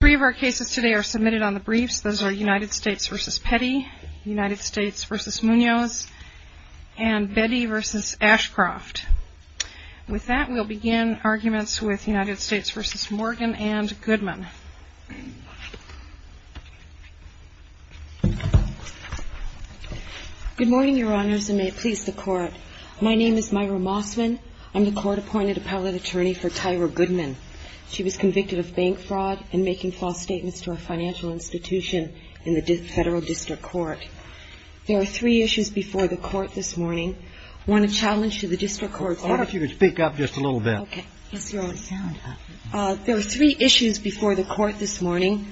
Three of our cases today are submitted on the briefs. Those are United States v. Petty, United States v. Munoz, and Betty v. Ashcroft. With that, we'll begin arguments with United States v. Morgan and Goodman. Good morning, your honors, and may it please the court. My name is Myra Mossman. I'm the court-appointed appellate attorney for Tyra Goodman. She was convicted of bank fraud and making false statements to a financial institution in the federal district court. There are three issues before the court this morning. One, a challenge to the district court's- Why don't you speak up just a little bit? Okay. Yes, your honor. There are three issues before the court this morning.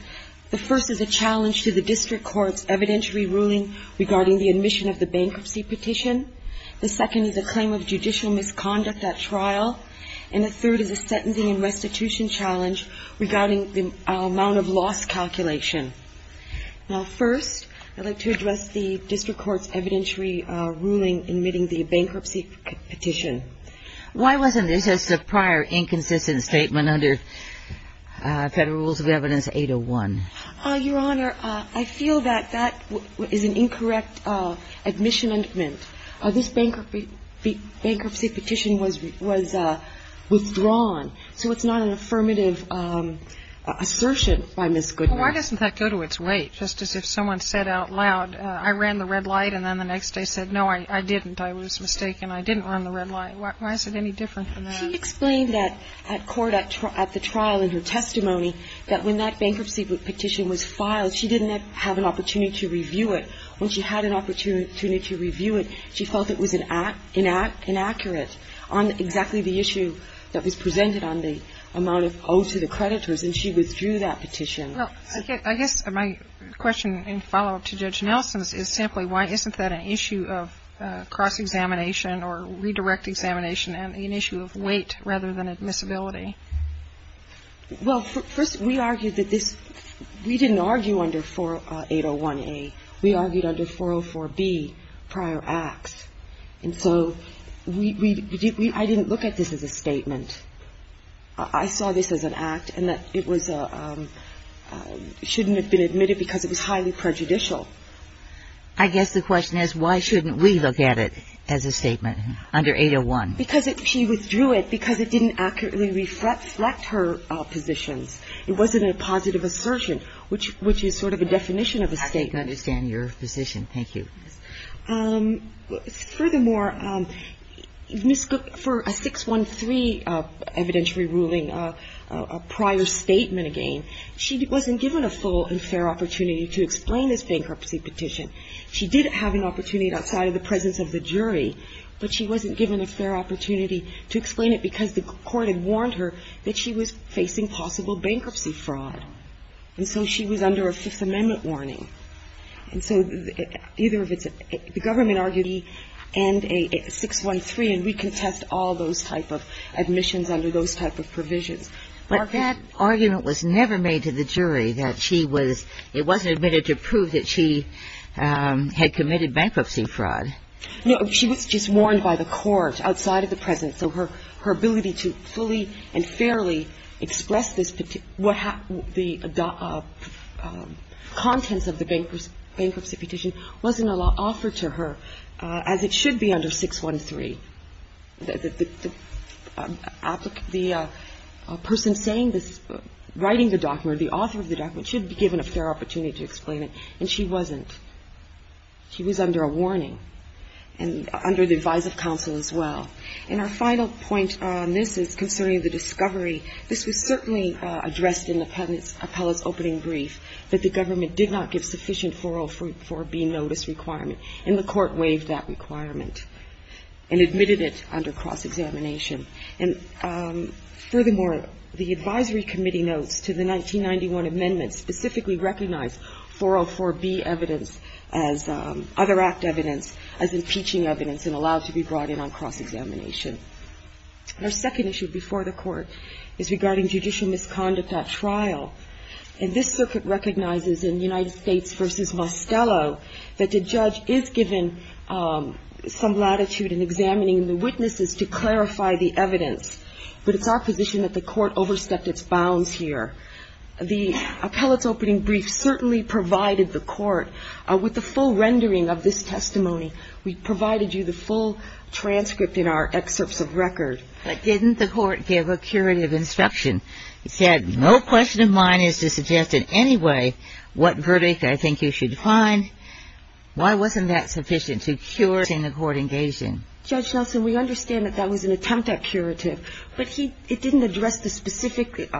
The first is a challenge to the district court's evidentiary ruling regarding the admission of the bankruptcy petition. The second is a claim of judicial misconduct at trial. And the third is a sentencing and restitution challenge regarding the amount of loss calculation. Now, first, I'd like to address the district court's evidentiary ruling admitting the bankruptcy petition. Why wasn't this just a prior inconsistent statement under Federal Rules of Evidence 801? Your honor, I feel that that is an incorrect admission amendment. This bankruptcy petition was withdrawn. So it's not an affirmative assertion by Ms. Goodman. Well, why doesn't that go to its weight? Just as if someone said out loud, I ran the red light, and then the next day said, no, I didn't. I was mistaken. I didn't run the red light. Why is it any different than that? She explained that at court, at the trial, in her testimony, that when that bankruptcy petition was filed, she didn't have an opportunity to review it. When she had an opportunity to review it, she felt it was inaccurate on exactly the issue that was presented on the amount owed to the creditors, and she withdrew that petition. Well, I guess my question in follow-up to Judge Nelson's is simply why isn't that an issue of cross-examination or redirect examination and an issue of weight rather than admissibility? Well, first, we argued that this we didn't argue under 801A. We argued under 404B, prior acts. And so we did we I didn't look at this as a statement. I saw this as an act and that it was a shouldn't have been admitted because it was highly prejudicial. I guess the question is why shouldn't we look at it as a statement under 801? Because she withdrew it because it didn't accurately reflect her positions. It wasn't a positive assertion, which is sort of a definition of a statement. I think I understand your position. Thank you. Furthermore, Ms. Cook, for a 613 evidentiary ruling, a prior statement again, she wasn't given a full and fair opportunity to explain this bankruptcy petition. She did have an opportunity outside of the presence of the jury, but she wasn't given a fair opportunity to explain it because the court had warned her that she was facing possible bankruptcy fraud. And so she was under a Fifth Amendment warning. And so either of its the government argued E and a 613, and we contest all those type of admissions under those type of provisions. But that argument was never made to the jury that she was it wasn't admitted to prove that she had committed bankruptcy fraud. No. She was just warned by the court outside of the presence. So her ability to fully and fairly express this, the contents of the bankruptcy petition wasn't offered to her, as it should be under 613. The person saying this, writing the document, the author of the document, should be given a fair opportunity to explain it, and she wasn't. She was under a warning and under the advice of counsel as well. And our final point on this is concerning the discovery. This was certainly addressed in the appellate's opening brief, that the government did not give sufficient 404B notice requirement, and the court waived that requirement and admitted it under cross-examination. And furthermore, the advisory committee notes to the 1991 amendment specifically recognized 404B evidence as other act evidence, as impeaching evidence, and allowed to be brought in on cross-examination. Our second issue before the Court is regarding judicial misconduct at trial. And this circuit recognizes in United States v. Mostello that the judge is given some latitude in examining the witnesses to clarify the evidence. But it's our position that the court overstepped its bounds here. The appellate's opening brief certainly provided the court with the full rendering of this testimony. We provided you the full transcript in our excerpts of record. But didn't the court give a curative instruction? It said, no question of mine is to suggest in any way what verdict I think you should find. Why wasn't that sufficient to cure the court engaging? Judge Nelson, we understand that that was an attempt at curative. But he didn't address the specific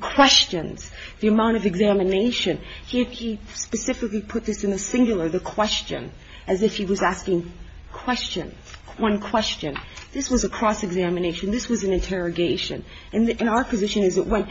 questions, the amount of examination. He specifically put this in the singular, the question, as if he was asking questions, one question. This was a cross-examination. This was an interrogation. And our position is it was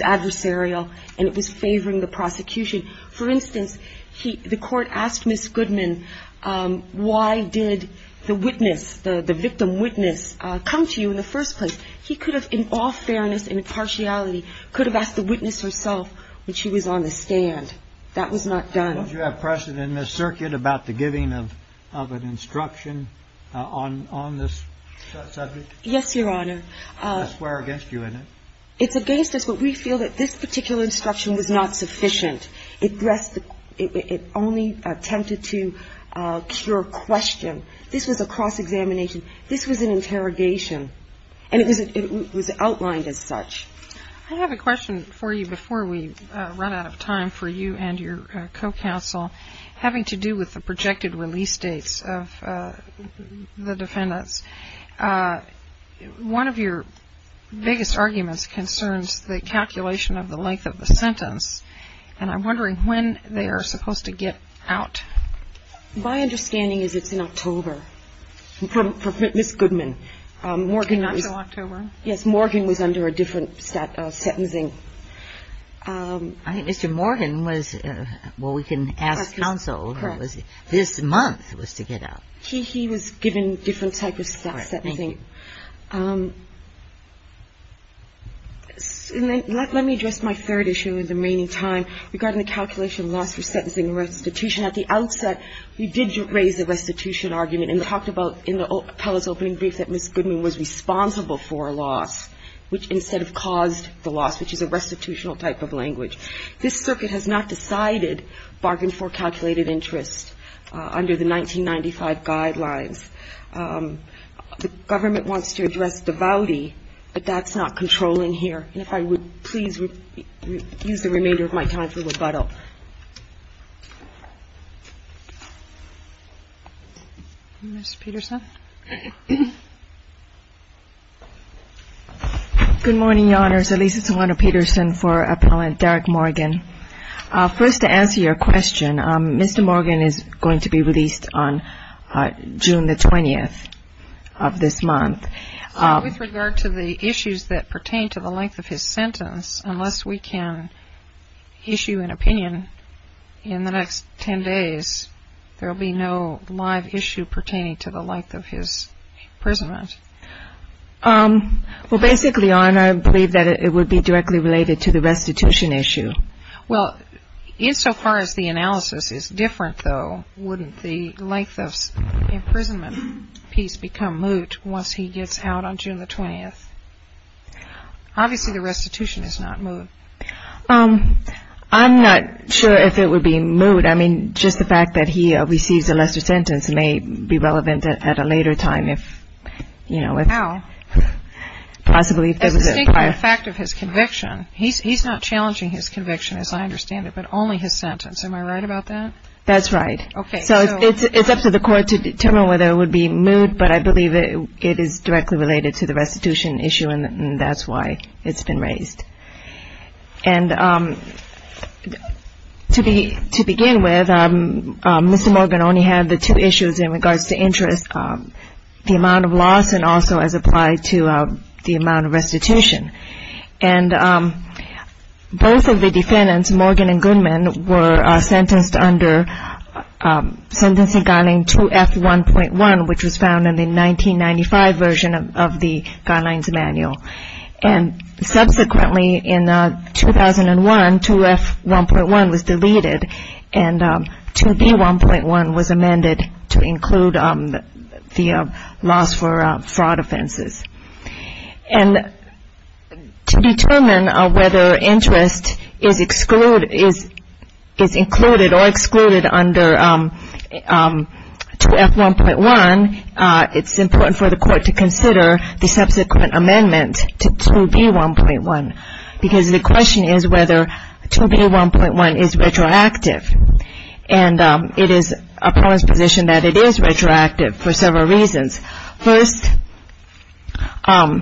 adversarial and it was favoring the prosecution. For instance, the court asked Ms. Goodman, why did the witness, the victim witness, come to you in the first place? He could have, in all fairness and impartiality, could have asked the witness herself when she was on the stand. That was not done. Don't you have precedent, Ms. Circuit, about the giving of an instruction on this subject? Yes, Your Honor. We're against you in it. It's against us. But we feel that this particular instruction was not sufficient. It only attempted to cure question. This was a cross-examination. This was an interrogation. And it was outlined as such. I have a question for you before we run out of time for you and your co-counsel, having to do with the projected release dates of the defendants. One of your biggest arguments concerns the calculation of the length of the sentence. And I'm wondering when they are supposed to get out. My understanding is it's in October. For Ms. Goodman. Not until October. Yes. Morgan was under a different set of sentencing. I think Mr. Morgan was, well, we can ask counsel. This month was to get out. He was given different types of sentencing. Let me address my third issue in the remaining time regarding the calculation of loss for sentencing and restitution. At the outset, we did raise the restitution argument and talked about in the appellate's opening brief that Ms. Goodman was responsible for a loss, which instead of caused This circuit has not decided bargain for calculated interest under the 1995 guidelines. The government wants to address devoutly, but that's not controlling here. And if I would please use the remainder of my time for rebuttal. Ms. Peterson. Good morning, Your Honors. At least it's one of Peterson for appellant Derek Morgan. First, to answer your question, Mr. Morgan is going to be released on June the 20th of this month. With regard to the issues that pertain to the length of his sentence, unless we can issue an opinion in the next 10 days, there will be no live issue pertaining to the length of his prison run. Well, basically, Your Honor, I believe that it would be directly related to the restitution issue. Well, insofar as the analysis is different, though, wouldn't the length of imprisonment piece become moot once he gets out on June the 20th? Obviously, the restitution is not moot. I'm not sure if it would be moot. I mean, just the fact that he receives a lesser sentence may be relevant at a later time if, you know, possibly. As distinct from the fact of his conviction. He's not challenging his conviction, as I understand it, but only his sentence. Am I right about that? That's right. Okay. So it's up to the court to determine whether it would be moot, but I believe it is directly related to the restitution issue, and that's why it's been raised. And to begin with, Mr. Morgan only had the two issues in regards to interest, the amount of loss and also as applied to the amount of restitution. And both of the defendants, Morgan and Goodman, were sentenced under Sentencing Guideline 2F1.1, which was found in the 1995 version of the Guidelines Manual. And subsequently in 2001, 2F1.1 was deleted, and 2B1.1 was amended to include the loss for fraud offenses. And to determine whether interest is included or excluded under 2F1.1, it's important for the court to consider the subsequent amendment to 2B1.1, because the question is whether 2B1.1 is retroactive. And it is a prone position that it is retroactive for several reasons. First of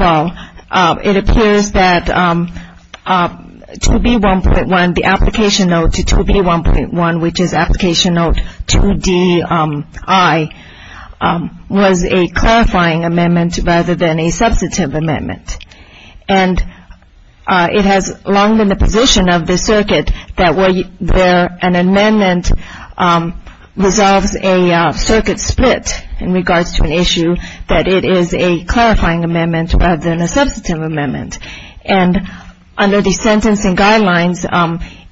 all, it appears that 2B1.1, the application note to 2B1.1, which is application note 2DI, was a clarifying amendment rather than a substantive amendment. And it has long been the position of the circuit that where an amendment resolves a circuit split in regards to an issue, that it is a clarifying amendment rather than a substantive amendment. And under the Sentencing Guidelines,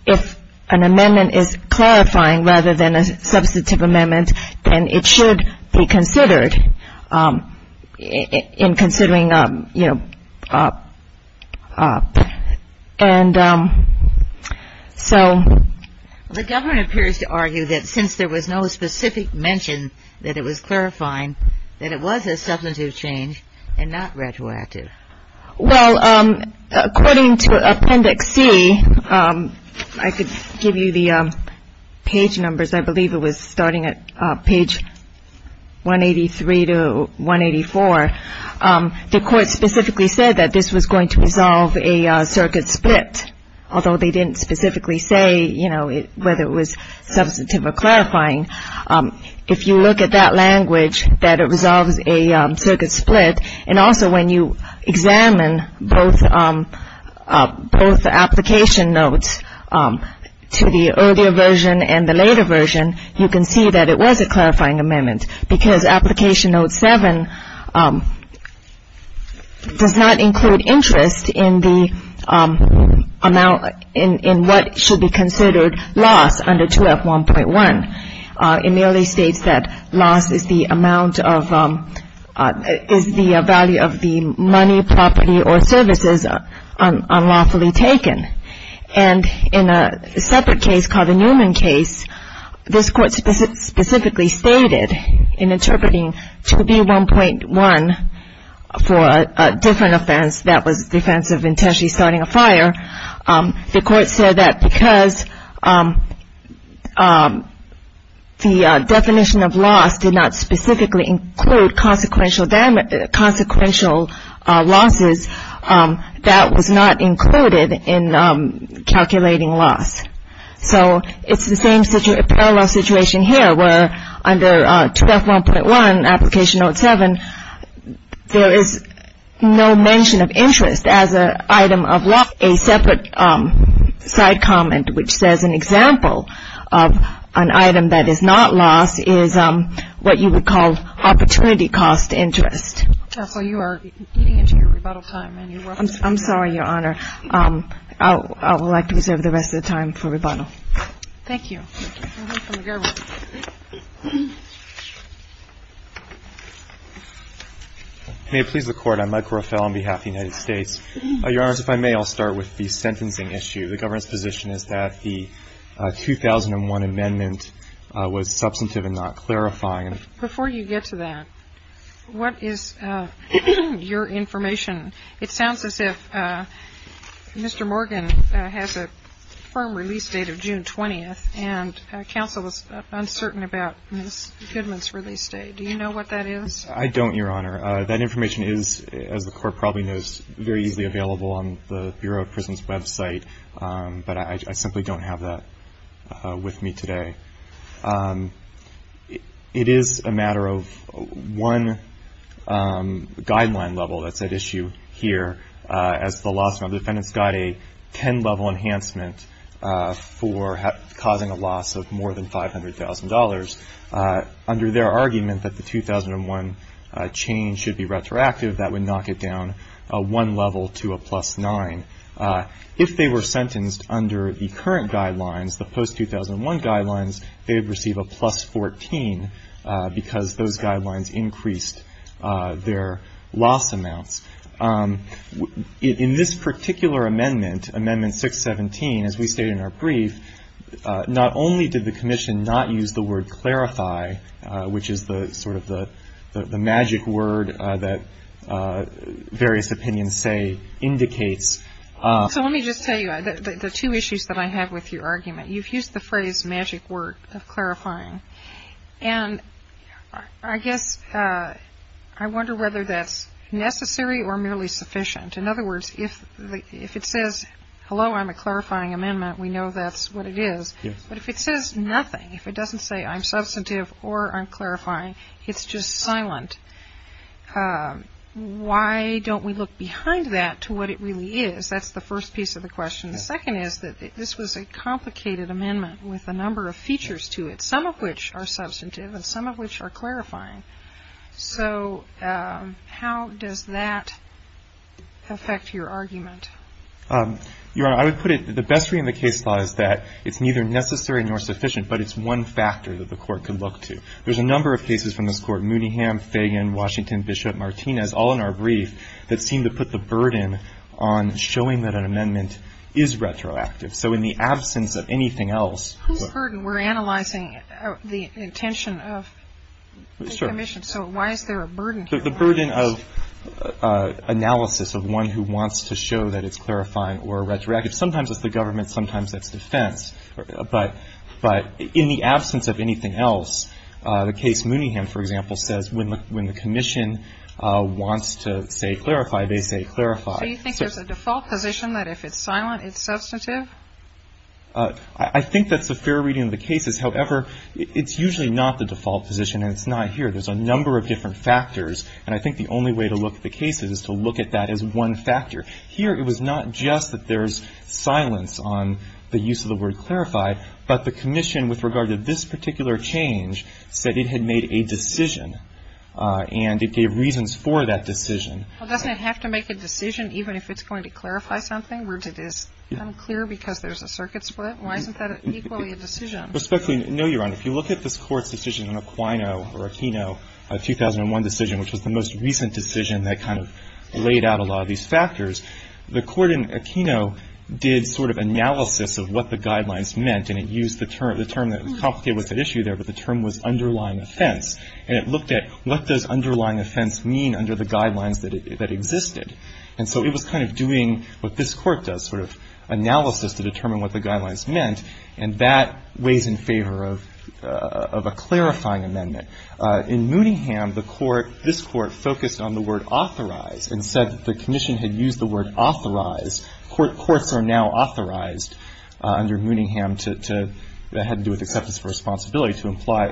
if an amendment is clarifying rather than a substantive amendment, then it should be considered in considering, you know. And so the government appears to argue that since there was no specific mention that it was clarifying, that it was a substantive change and not retroactive. Well, according to Appendix C, I could give you the page numbers. I believe it was starting at page 183 to 184. The court specifically said that this was going to resolve a circuit split, although they didn't specifically say, you know, whether it was substantive or clarifying. If you look at that language, that it resolves a circuit split, and also when you examine both application notes to the earlier version and the later version, you can see that it was a clarifying amendment, because application note 7 does not include interest in the amount, in what should be considered loss under 2F1.1. It merely states that loss is the amount of, is the value of the money, property, or services unlawfully taken. And in a separate case called the Newman case, this court specifically stated in interpreting 2B1.1 for a different offense that was the offense of intentionally starting a fire, the court said that because the definition of loss did not specifically include consequential losses, that was not included in calculating loss. So it's the same parallel situation here, where under 2F1.1, application note 7, there is no mention of interest as an item of loss. A separate side comment, which says an example of an item that is not loss, is what you would call opportunity cost interest. And so you are eating into your rebuttal time. I'm sorry, Your Honor. I would like to reserve the rest of the time for rebuttal. Thank you. May it please the Court. I'm Mike Rofel on behalf of the United States. Your Honors, if I may, I'll start with the sentencing issue. The government's position is that the 2001 amendment was substantive and not clarifying. Before you get to that, what is your information? It sounds as if Mr. Morgan has a firm release date of June 20th, and counsel is uncertain about Ms. Goodman's release date. Do you know what that is? I don't, Your Honor. That information is, as the Court probably knows, very easily available on the Bureau of Prisons' website, but I simply don't have that with me today. It is a matter of one guideline level that's at issue here, as the law firm defendants got a ten-level enhancement for causing a loss of more than $500,000. Under their argument that the 2001 change should be retroactive, that would knock it down one level to a plus nine. If they were sentenced under the current guidelines, the post-2001 guidelines, they would receive a plus 14 because those guidelines increased their loss amounts. In this particular amendment, Amendment 617, as we state in our brief, not only did the Commission not use the word clarify, which is sort of the magic word that various opinions say indicates. So let me just tell you the two issues that I have with your argument. You've used the phrase magic word of clarifying, and I guess I wonder whether that's necessary or merely sufficient. In other words, if it says, hello, I'm a clarifying amendment, we know that's what it is. Yes. But if it says nothing, if it doesn't say I'm substantive or I'm clarifying, it's just silent. Why don't we look behind that to what it really is? That's the first piece of the question. The second is that this was a complicated amendment with a number of features to it, some of which are substantive and some of which are clarifying. So how does that affect your argument? Your Honor, I would put it the best way in the case law is that it's neither necessary nor sufficient, but it's one factor that the Court could look to. There's a number of cases from this Court, Mooneyham, Fagan, Washington, Bishop, Martinez, all in our brief, that seem to put the burden on showing that an amendment is retroactive. So in the absence of anything else. Whose burden? We're analyzing the intention of the Commission. So why is there a burden here? The burden of analysis of one who wants to show that it's clarifying or retroactive. Sometimes it's the government, sometimes it's defense. But in the absence of anything else, the case Mooneyham, for example, says when the Commission wants to say clarify, they say clarify. So you think there's a default position that if it's silent, it's substantive? I think that's a fair reading of the cases. However, it's usually not the default position, and it's not here. There's a number of different factors, and I think the only way to look at the cases is to look at that as one factor. Here, it was not just that there's silence on the use of the word clarify, but the Commission, with regard to this particular change, said it had made a decision and it gave reasons for that decision. Well, doesn't it have to make a decision even if it's going to clarify something where it is unclear because there's a circuit split? Why isn't that equally a decision? Respectfully, no, Your Honor. If you look at this Court's decision in Aquino or Aquino, a 2001 decision, which was the most recent decision that kind of laid out a lot of these factors, the Court in Aquino did sort of analysis of what the guidelines meant, and it used the term that was complicated with the issue there, but the term was underlying offense. And it looked at what does underlying offense mean under the guidelines that existed. And so it was kind of doing what this Court does, sort of analysis to determine what the guidelines meant. And that weighs in favor of a clarifying amendment. In Mooningham, the Court, this Court, focused on the word authorize and said the Commission had used the word authorize. Courts are now authorized under Mooningham to, that had to do with acceptance of responsibility, to apply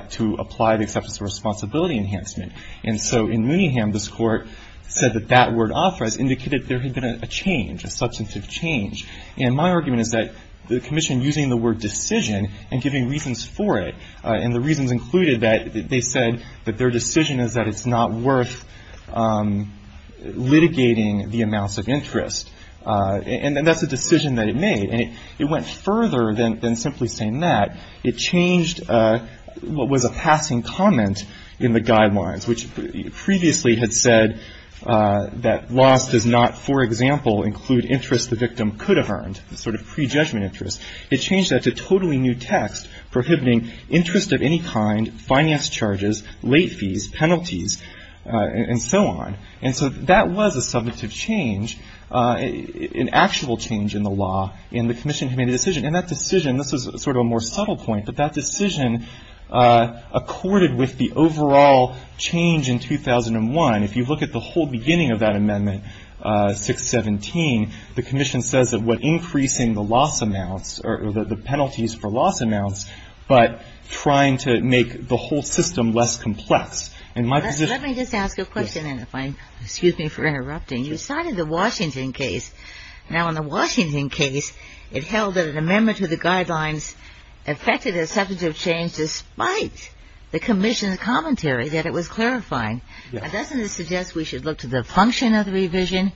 the acceptance of responsibility enhancement. And so in Mooningham, this Court said that that word authorize indicated there had been a change, a substantive change. And my argument is that the Commission using the word decision and giving reasons for it, and the reasons included that they said that their decision is that it's not worth litigating the amounts of interest. And that's a decision that it made. And it went further than simply saying that. It changed what was a passing comment in the guidelines, which previously had said that loss does not, for example, include interest the victim could have earned, sort of prejudgment interest. It changed that to totally new text, prohibiting interest of any kind, finance charges, late fees, penalties, and so on. And so that was a substantive change, an actual change in the law in the Commission who made the decision. And that decision, this is sort of a more subtle point, but that decision accorded with the overall change in 2001. And if you look at the whole beginning of that amendment, 617, the Commission says that what increasing the loss amounts or the penalties for loss amounts, but trying to make the whole system less complex. In my position ---- Ginsburg. Let me just ask a question, and if I'm, excuse me for interrupting. You cited the Washington case. Now, in the Washington case, it held that an amendment to the guidelines affected a substantive change despite the Commission's commentary that it was clarifying. Doesn't this suggest we should look to the function of the revision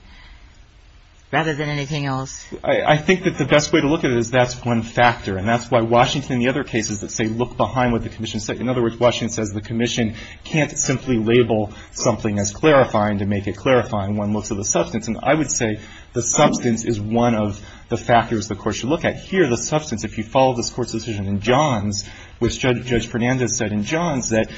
rather than anything else? I think that the best way to look at it is that's one factor. And that's why Washington and the other cases that say look behind what the Commission said. In other words, Washington says the Commission can't simply label something as clarifying to make it clarifying. One looks at the substance. And I would say the substance is one of the factors the Court should look at. Here, the substance, if you follow this Court's decision in Johns, which Judge Fernandez said in Johns, that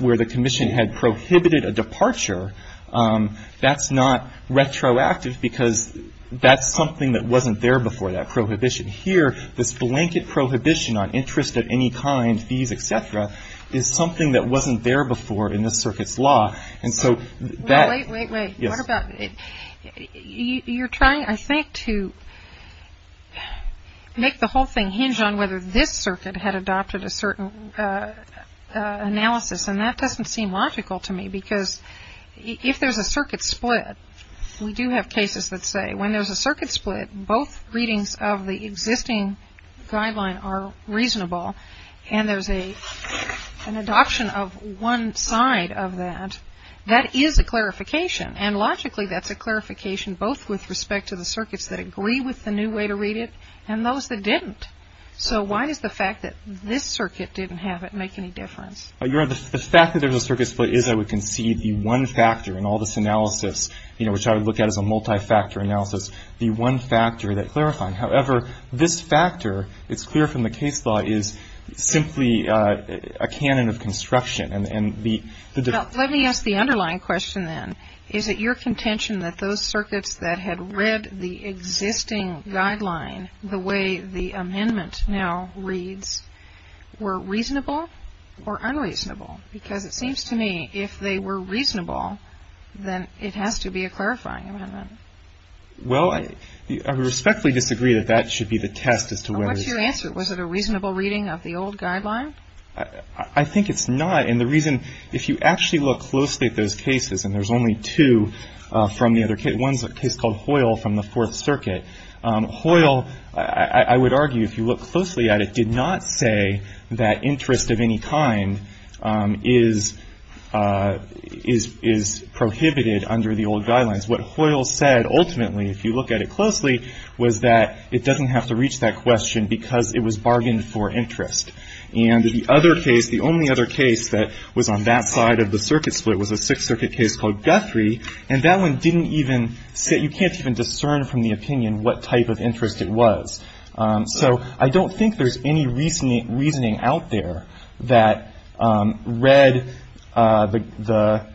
where the Commission had prohibited a departure, that's not retroactive because that's something that wasn't there before, that prohibition. Here, this blanket prohibition on interest of any kind, fees, et cetera, is something that wasn't there before in this Circuit's law. And so that ---- Wait, wait, wait. What about ---- Yes. You're trying, I think, to make the whole thing hinge on whether this Circuit had adopted a certain analysis. And that doesn't seem logical to me because if there's a Circuit split, we do have cases that say when there's a Circuit split, both readings of the existing guideline are reasonable and there's an adoption of one side of that, that is a clarification. And logically, that's a clarification both with respect to the Circuits that agree with the new way to read it and those that didn't. So why does the fact that this Circuit didn't have it make any difference? Your Honor, the fact that there's a Circuit split is, I would concede, the one factor in all this analysis, you know, which I would look at as a multi-factor analysis, the one factor that clarified. However, this factor, it's clear from the case law, is simply a canon of construction and the ---- Now, let me ask the underlying question then. Is it your contention that those Circuits that had read the existing guideline the way the amendment now reads were reasonable or unreasonable? Because it seems to me if they were reasonable, then it has to be a clarifying amendment. Well, I respectfully disagree that that should be the test as to whether ---- What's your answer? Was it a reasonable reading of the old guideline? I think it's not. And the reason, if you actually look closely at those cases, and there's only two from the other case, one's a case called Hoyle from the Fourth Circuit. Hoyle, I would argue, if you look closely at it, did not say that interest of any kind is prohibited under the old guidelines. What Hoyle said ultimately, if you look at it closely, was that it doesn't have to reach that question because it was bargained for interest. And the other case, the only other case that was on that side of the Circuit split was a Sixth Circuit case called Guthrie, and that one didn't even say ---- You can't even discern from the opinion what type of interest it was. So I don't think there's any reasoning out there that read the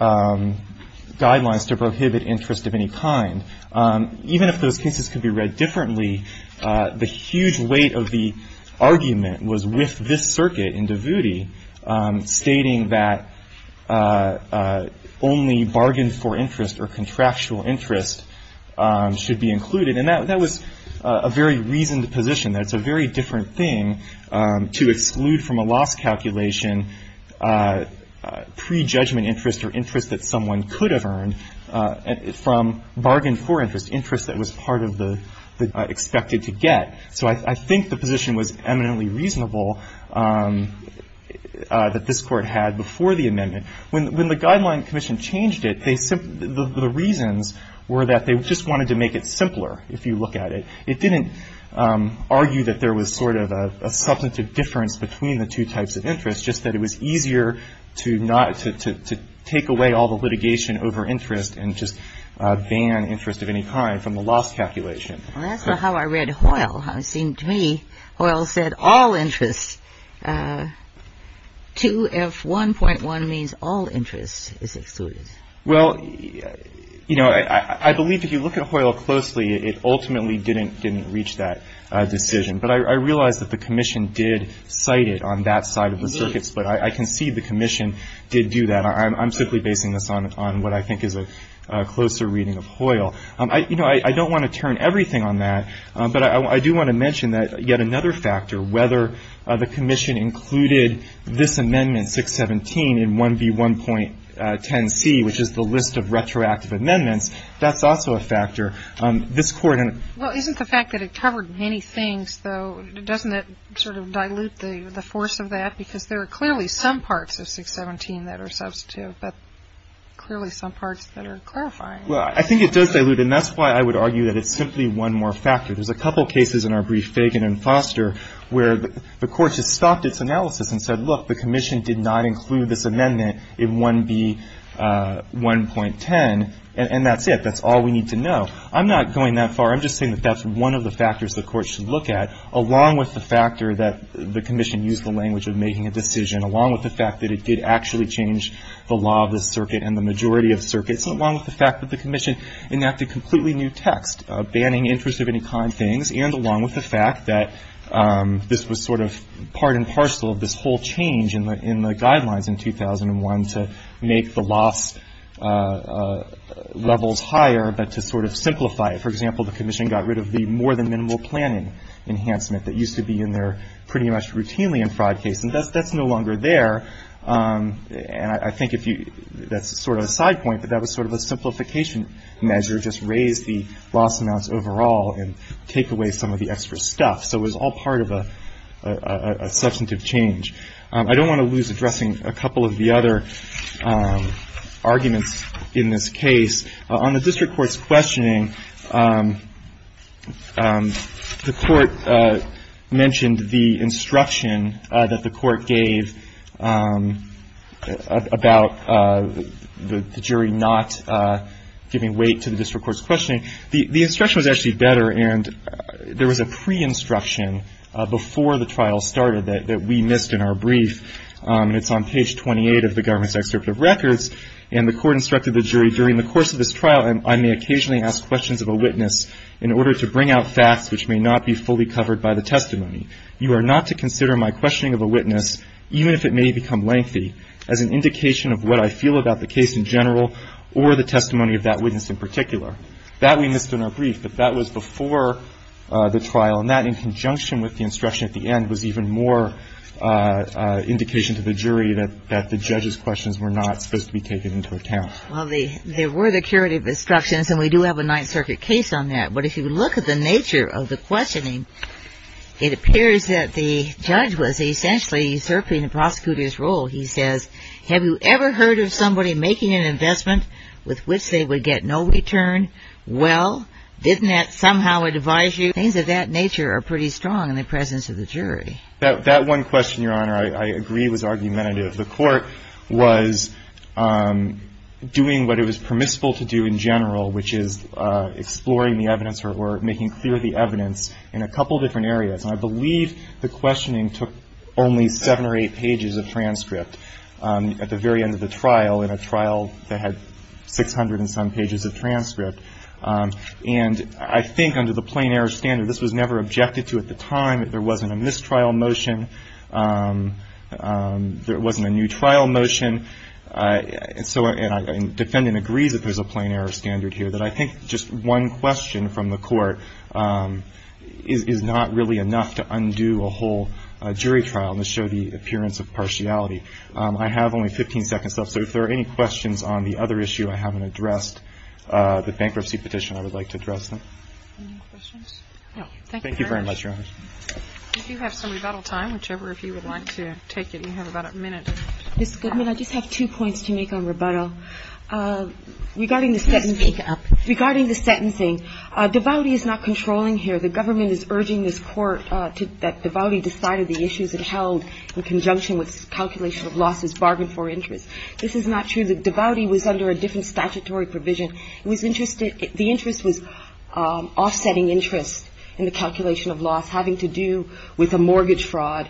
guidelines to prohibit interest of any kind. Even if those cases could be read differently, the huge weight of the argument was with this Circuit in Davuti stating that only bargained-for interest or contractual interest should be included. And that was a very reasoned position. That's a very different thing to exclude from a loss calculation prejudgment interest or interest that someone could have earned from bargained-for interest, interest that was part of the expected to get. So I think the position was eminently reasonable that this Court had before the amendment. When the Guideline Commission changed it, they simply ---- the reasons were that they just wanted to make it simpler, if you look at it. It didn't argue that there was sort of a substantive difference between the two types of interest, just that it was easier to not ---- to take away all the litigation over interest and just ban interest of any kind from the loss calculation. Well, that's not how I read Hoyle. How it seemed to me Hoyle said all interest, 2F1.1 means all interest is excluded. Well, you know, I believe if you look at Hoyle closely, it ultimately didn't reach that decision. But I realize that the Commission did cite it on that side of the circuits, but I concede the Commission did do that. I'm simply basing this on what I think is a closer reading of Hoyle. You know, I don't want to turn everything on that, but I do want to mention that yet another factor, whether the Commission included this amendment, 617, in 1B1.10c, which is the list of retroactive amendments, that's also a factor. This Court ---- Well, isn't the fact that it covered many things, though, doesn't it sort of dilute the force of that? Because there are clearly some parts of 617 that are substantive, but clearly some parts that are clarifying. Well, I think it does dilute, and that's why I would argue that it's simply one more factor. There's a couple cases in our brief Fagan and Foster where the Court just stopped its analysis and said, look, the Commission did not include this amendment in 1B1.10, and that's it. That's all we need to know. I'm not going that far. I'm just saying that that's one of the factors the Court should look at, along with the factor that the Commission used the language of making a decision, along with the fact that it did actually change the law of the circuit and the majority of circuits, along with the fact that the Commission enacted completely new text, banning interest of any kind things, and along with the fact that this was sort of part and parcel of this whole change in the guidelines in 2001 to make the loss levels higher, but to sort of simplify it. For example, the Commission got rid of the more than minimal planning enhancement that used to be in there pretty much routinely in fraud cases. That's no longer there. And I think if you – that's sort of a side point, but that was sort of a simplification measure, just raise the loss amounts overall and take away some of the extra stuff. So it was all part of a substantive change. I don't want to lose addressing a couple of the other arguments in this case. On the district court's questioning, the Court mentioned the instruction that the Court gave about the jury not giving weight to the district court's questioning. The instruction was actually better, and there was a pre-instruction before the trial started that we missed in our brief. It's on page 28 of the Government's Excerpt of Records, and the Court instructed the jury, during the course of this trial, I may occasionally ask questions of a witness in order to bring out facts which may not be fully covered by the testimony. You are not to consider my questioning of a witness, even if it may become lengthy, as an indication of what I feel about the case in general or the testimony of that witness in particular. That we missed in our brief, but that was before the trial. And that, in conjunction with the instruction at the end, was even more indication to the jury that the judge's questions were not supposed to be taken into account. Well, there were the curative instructions, and we do have a Ninth Circuit case on that. But if you look at the nature of the questioning, it appears that the judge was essentially usurping the prosecutor's role. He says, have you ever heard of somebody making an investment with which they would get no return? Well, didn't that somehow advise you? Things of that nature are pretty strong in the presence of the jury. That one question, Your Honor, I agree was argumentative. was doing what it was permissible to do in general, which is exploring the evidence or making clear the evidence in a couple different areas. And I believe the questioning took only seven or eight pages of transcript at the very end of the trial, in a trial that had 600 and some pages of transcript. And I think under the plain error standard, this was never objected to at the time. There wasn't a mistrial motion. There wasn't a new trial motion. And so defendant agrees that there's a plain error standard here, that I think just one question from the court is not really enough to undo a whole jury trial and to show the appearance of partiality. I have only 15 seconds left. So if there are any questions on the other issue I haven't addressed, the bankruptcy petition, I would like to address them. Any questions? No. Thank you, Your Honor. Thank you very much, Your Honor. If you have some rebuttal time, whichever, if you would like to take it. You have about a minute. Ms. Goodman, I just have two points to make on rebuttal. Regarding the sentencing. Please speak up. Regarding the sentencing, Devouty is not controlling here. The government is urging this Court that Devouty decided the issues it held in conjunction with calculation of losses bargained for interest. This is not true. Devouty was under a different statutory provision. It was interested the interest was offsetting interest in the calculation of loss, having to do with a mortgage fraud.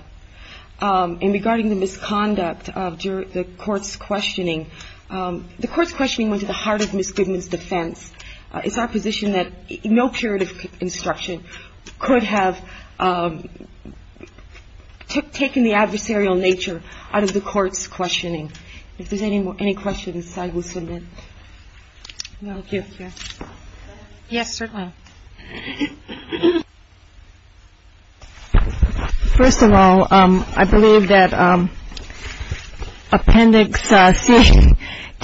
And regarding the misconduct of the Court's questioning. The Court's questioning went to the heart of Ms. Goodman's defense. It's our position that no curative instruction could have taken the adversarial nature out of the Court's questioning. If there's any questions, I will submit. Thank you. Yes, certainly. First of all, I believe that Appendix C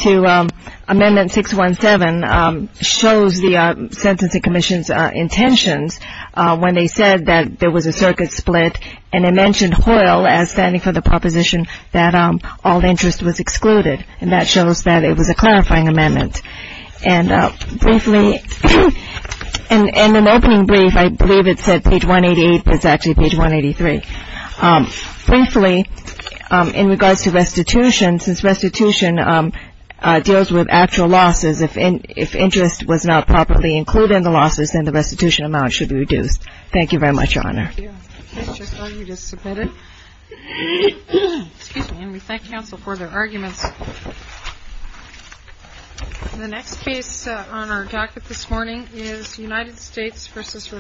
to Amendment 617 shows the Sentencing Commission's intentions when they said that there was a circuit split, and they mentioned Hoyle as standing for the proposition that all interest was excluded. And that shows that it was a clarifying amendment. And briefly, in an opening brief, I believe it said page 188, but it's actually page 183. Briefly, in regards to restitution, since restitution deals with actual losses, if interest was not properly included in the losses, then the restitution amount should be reduced. Thank you very much, Your Honor. Thank you. Ms. Chisholm, you just submitted? Excuse me. And we thank counsel for their arguments. The next case on our jacket this morning is United States v. Rivera-Guerrero.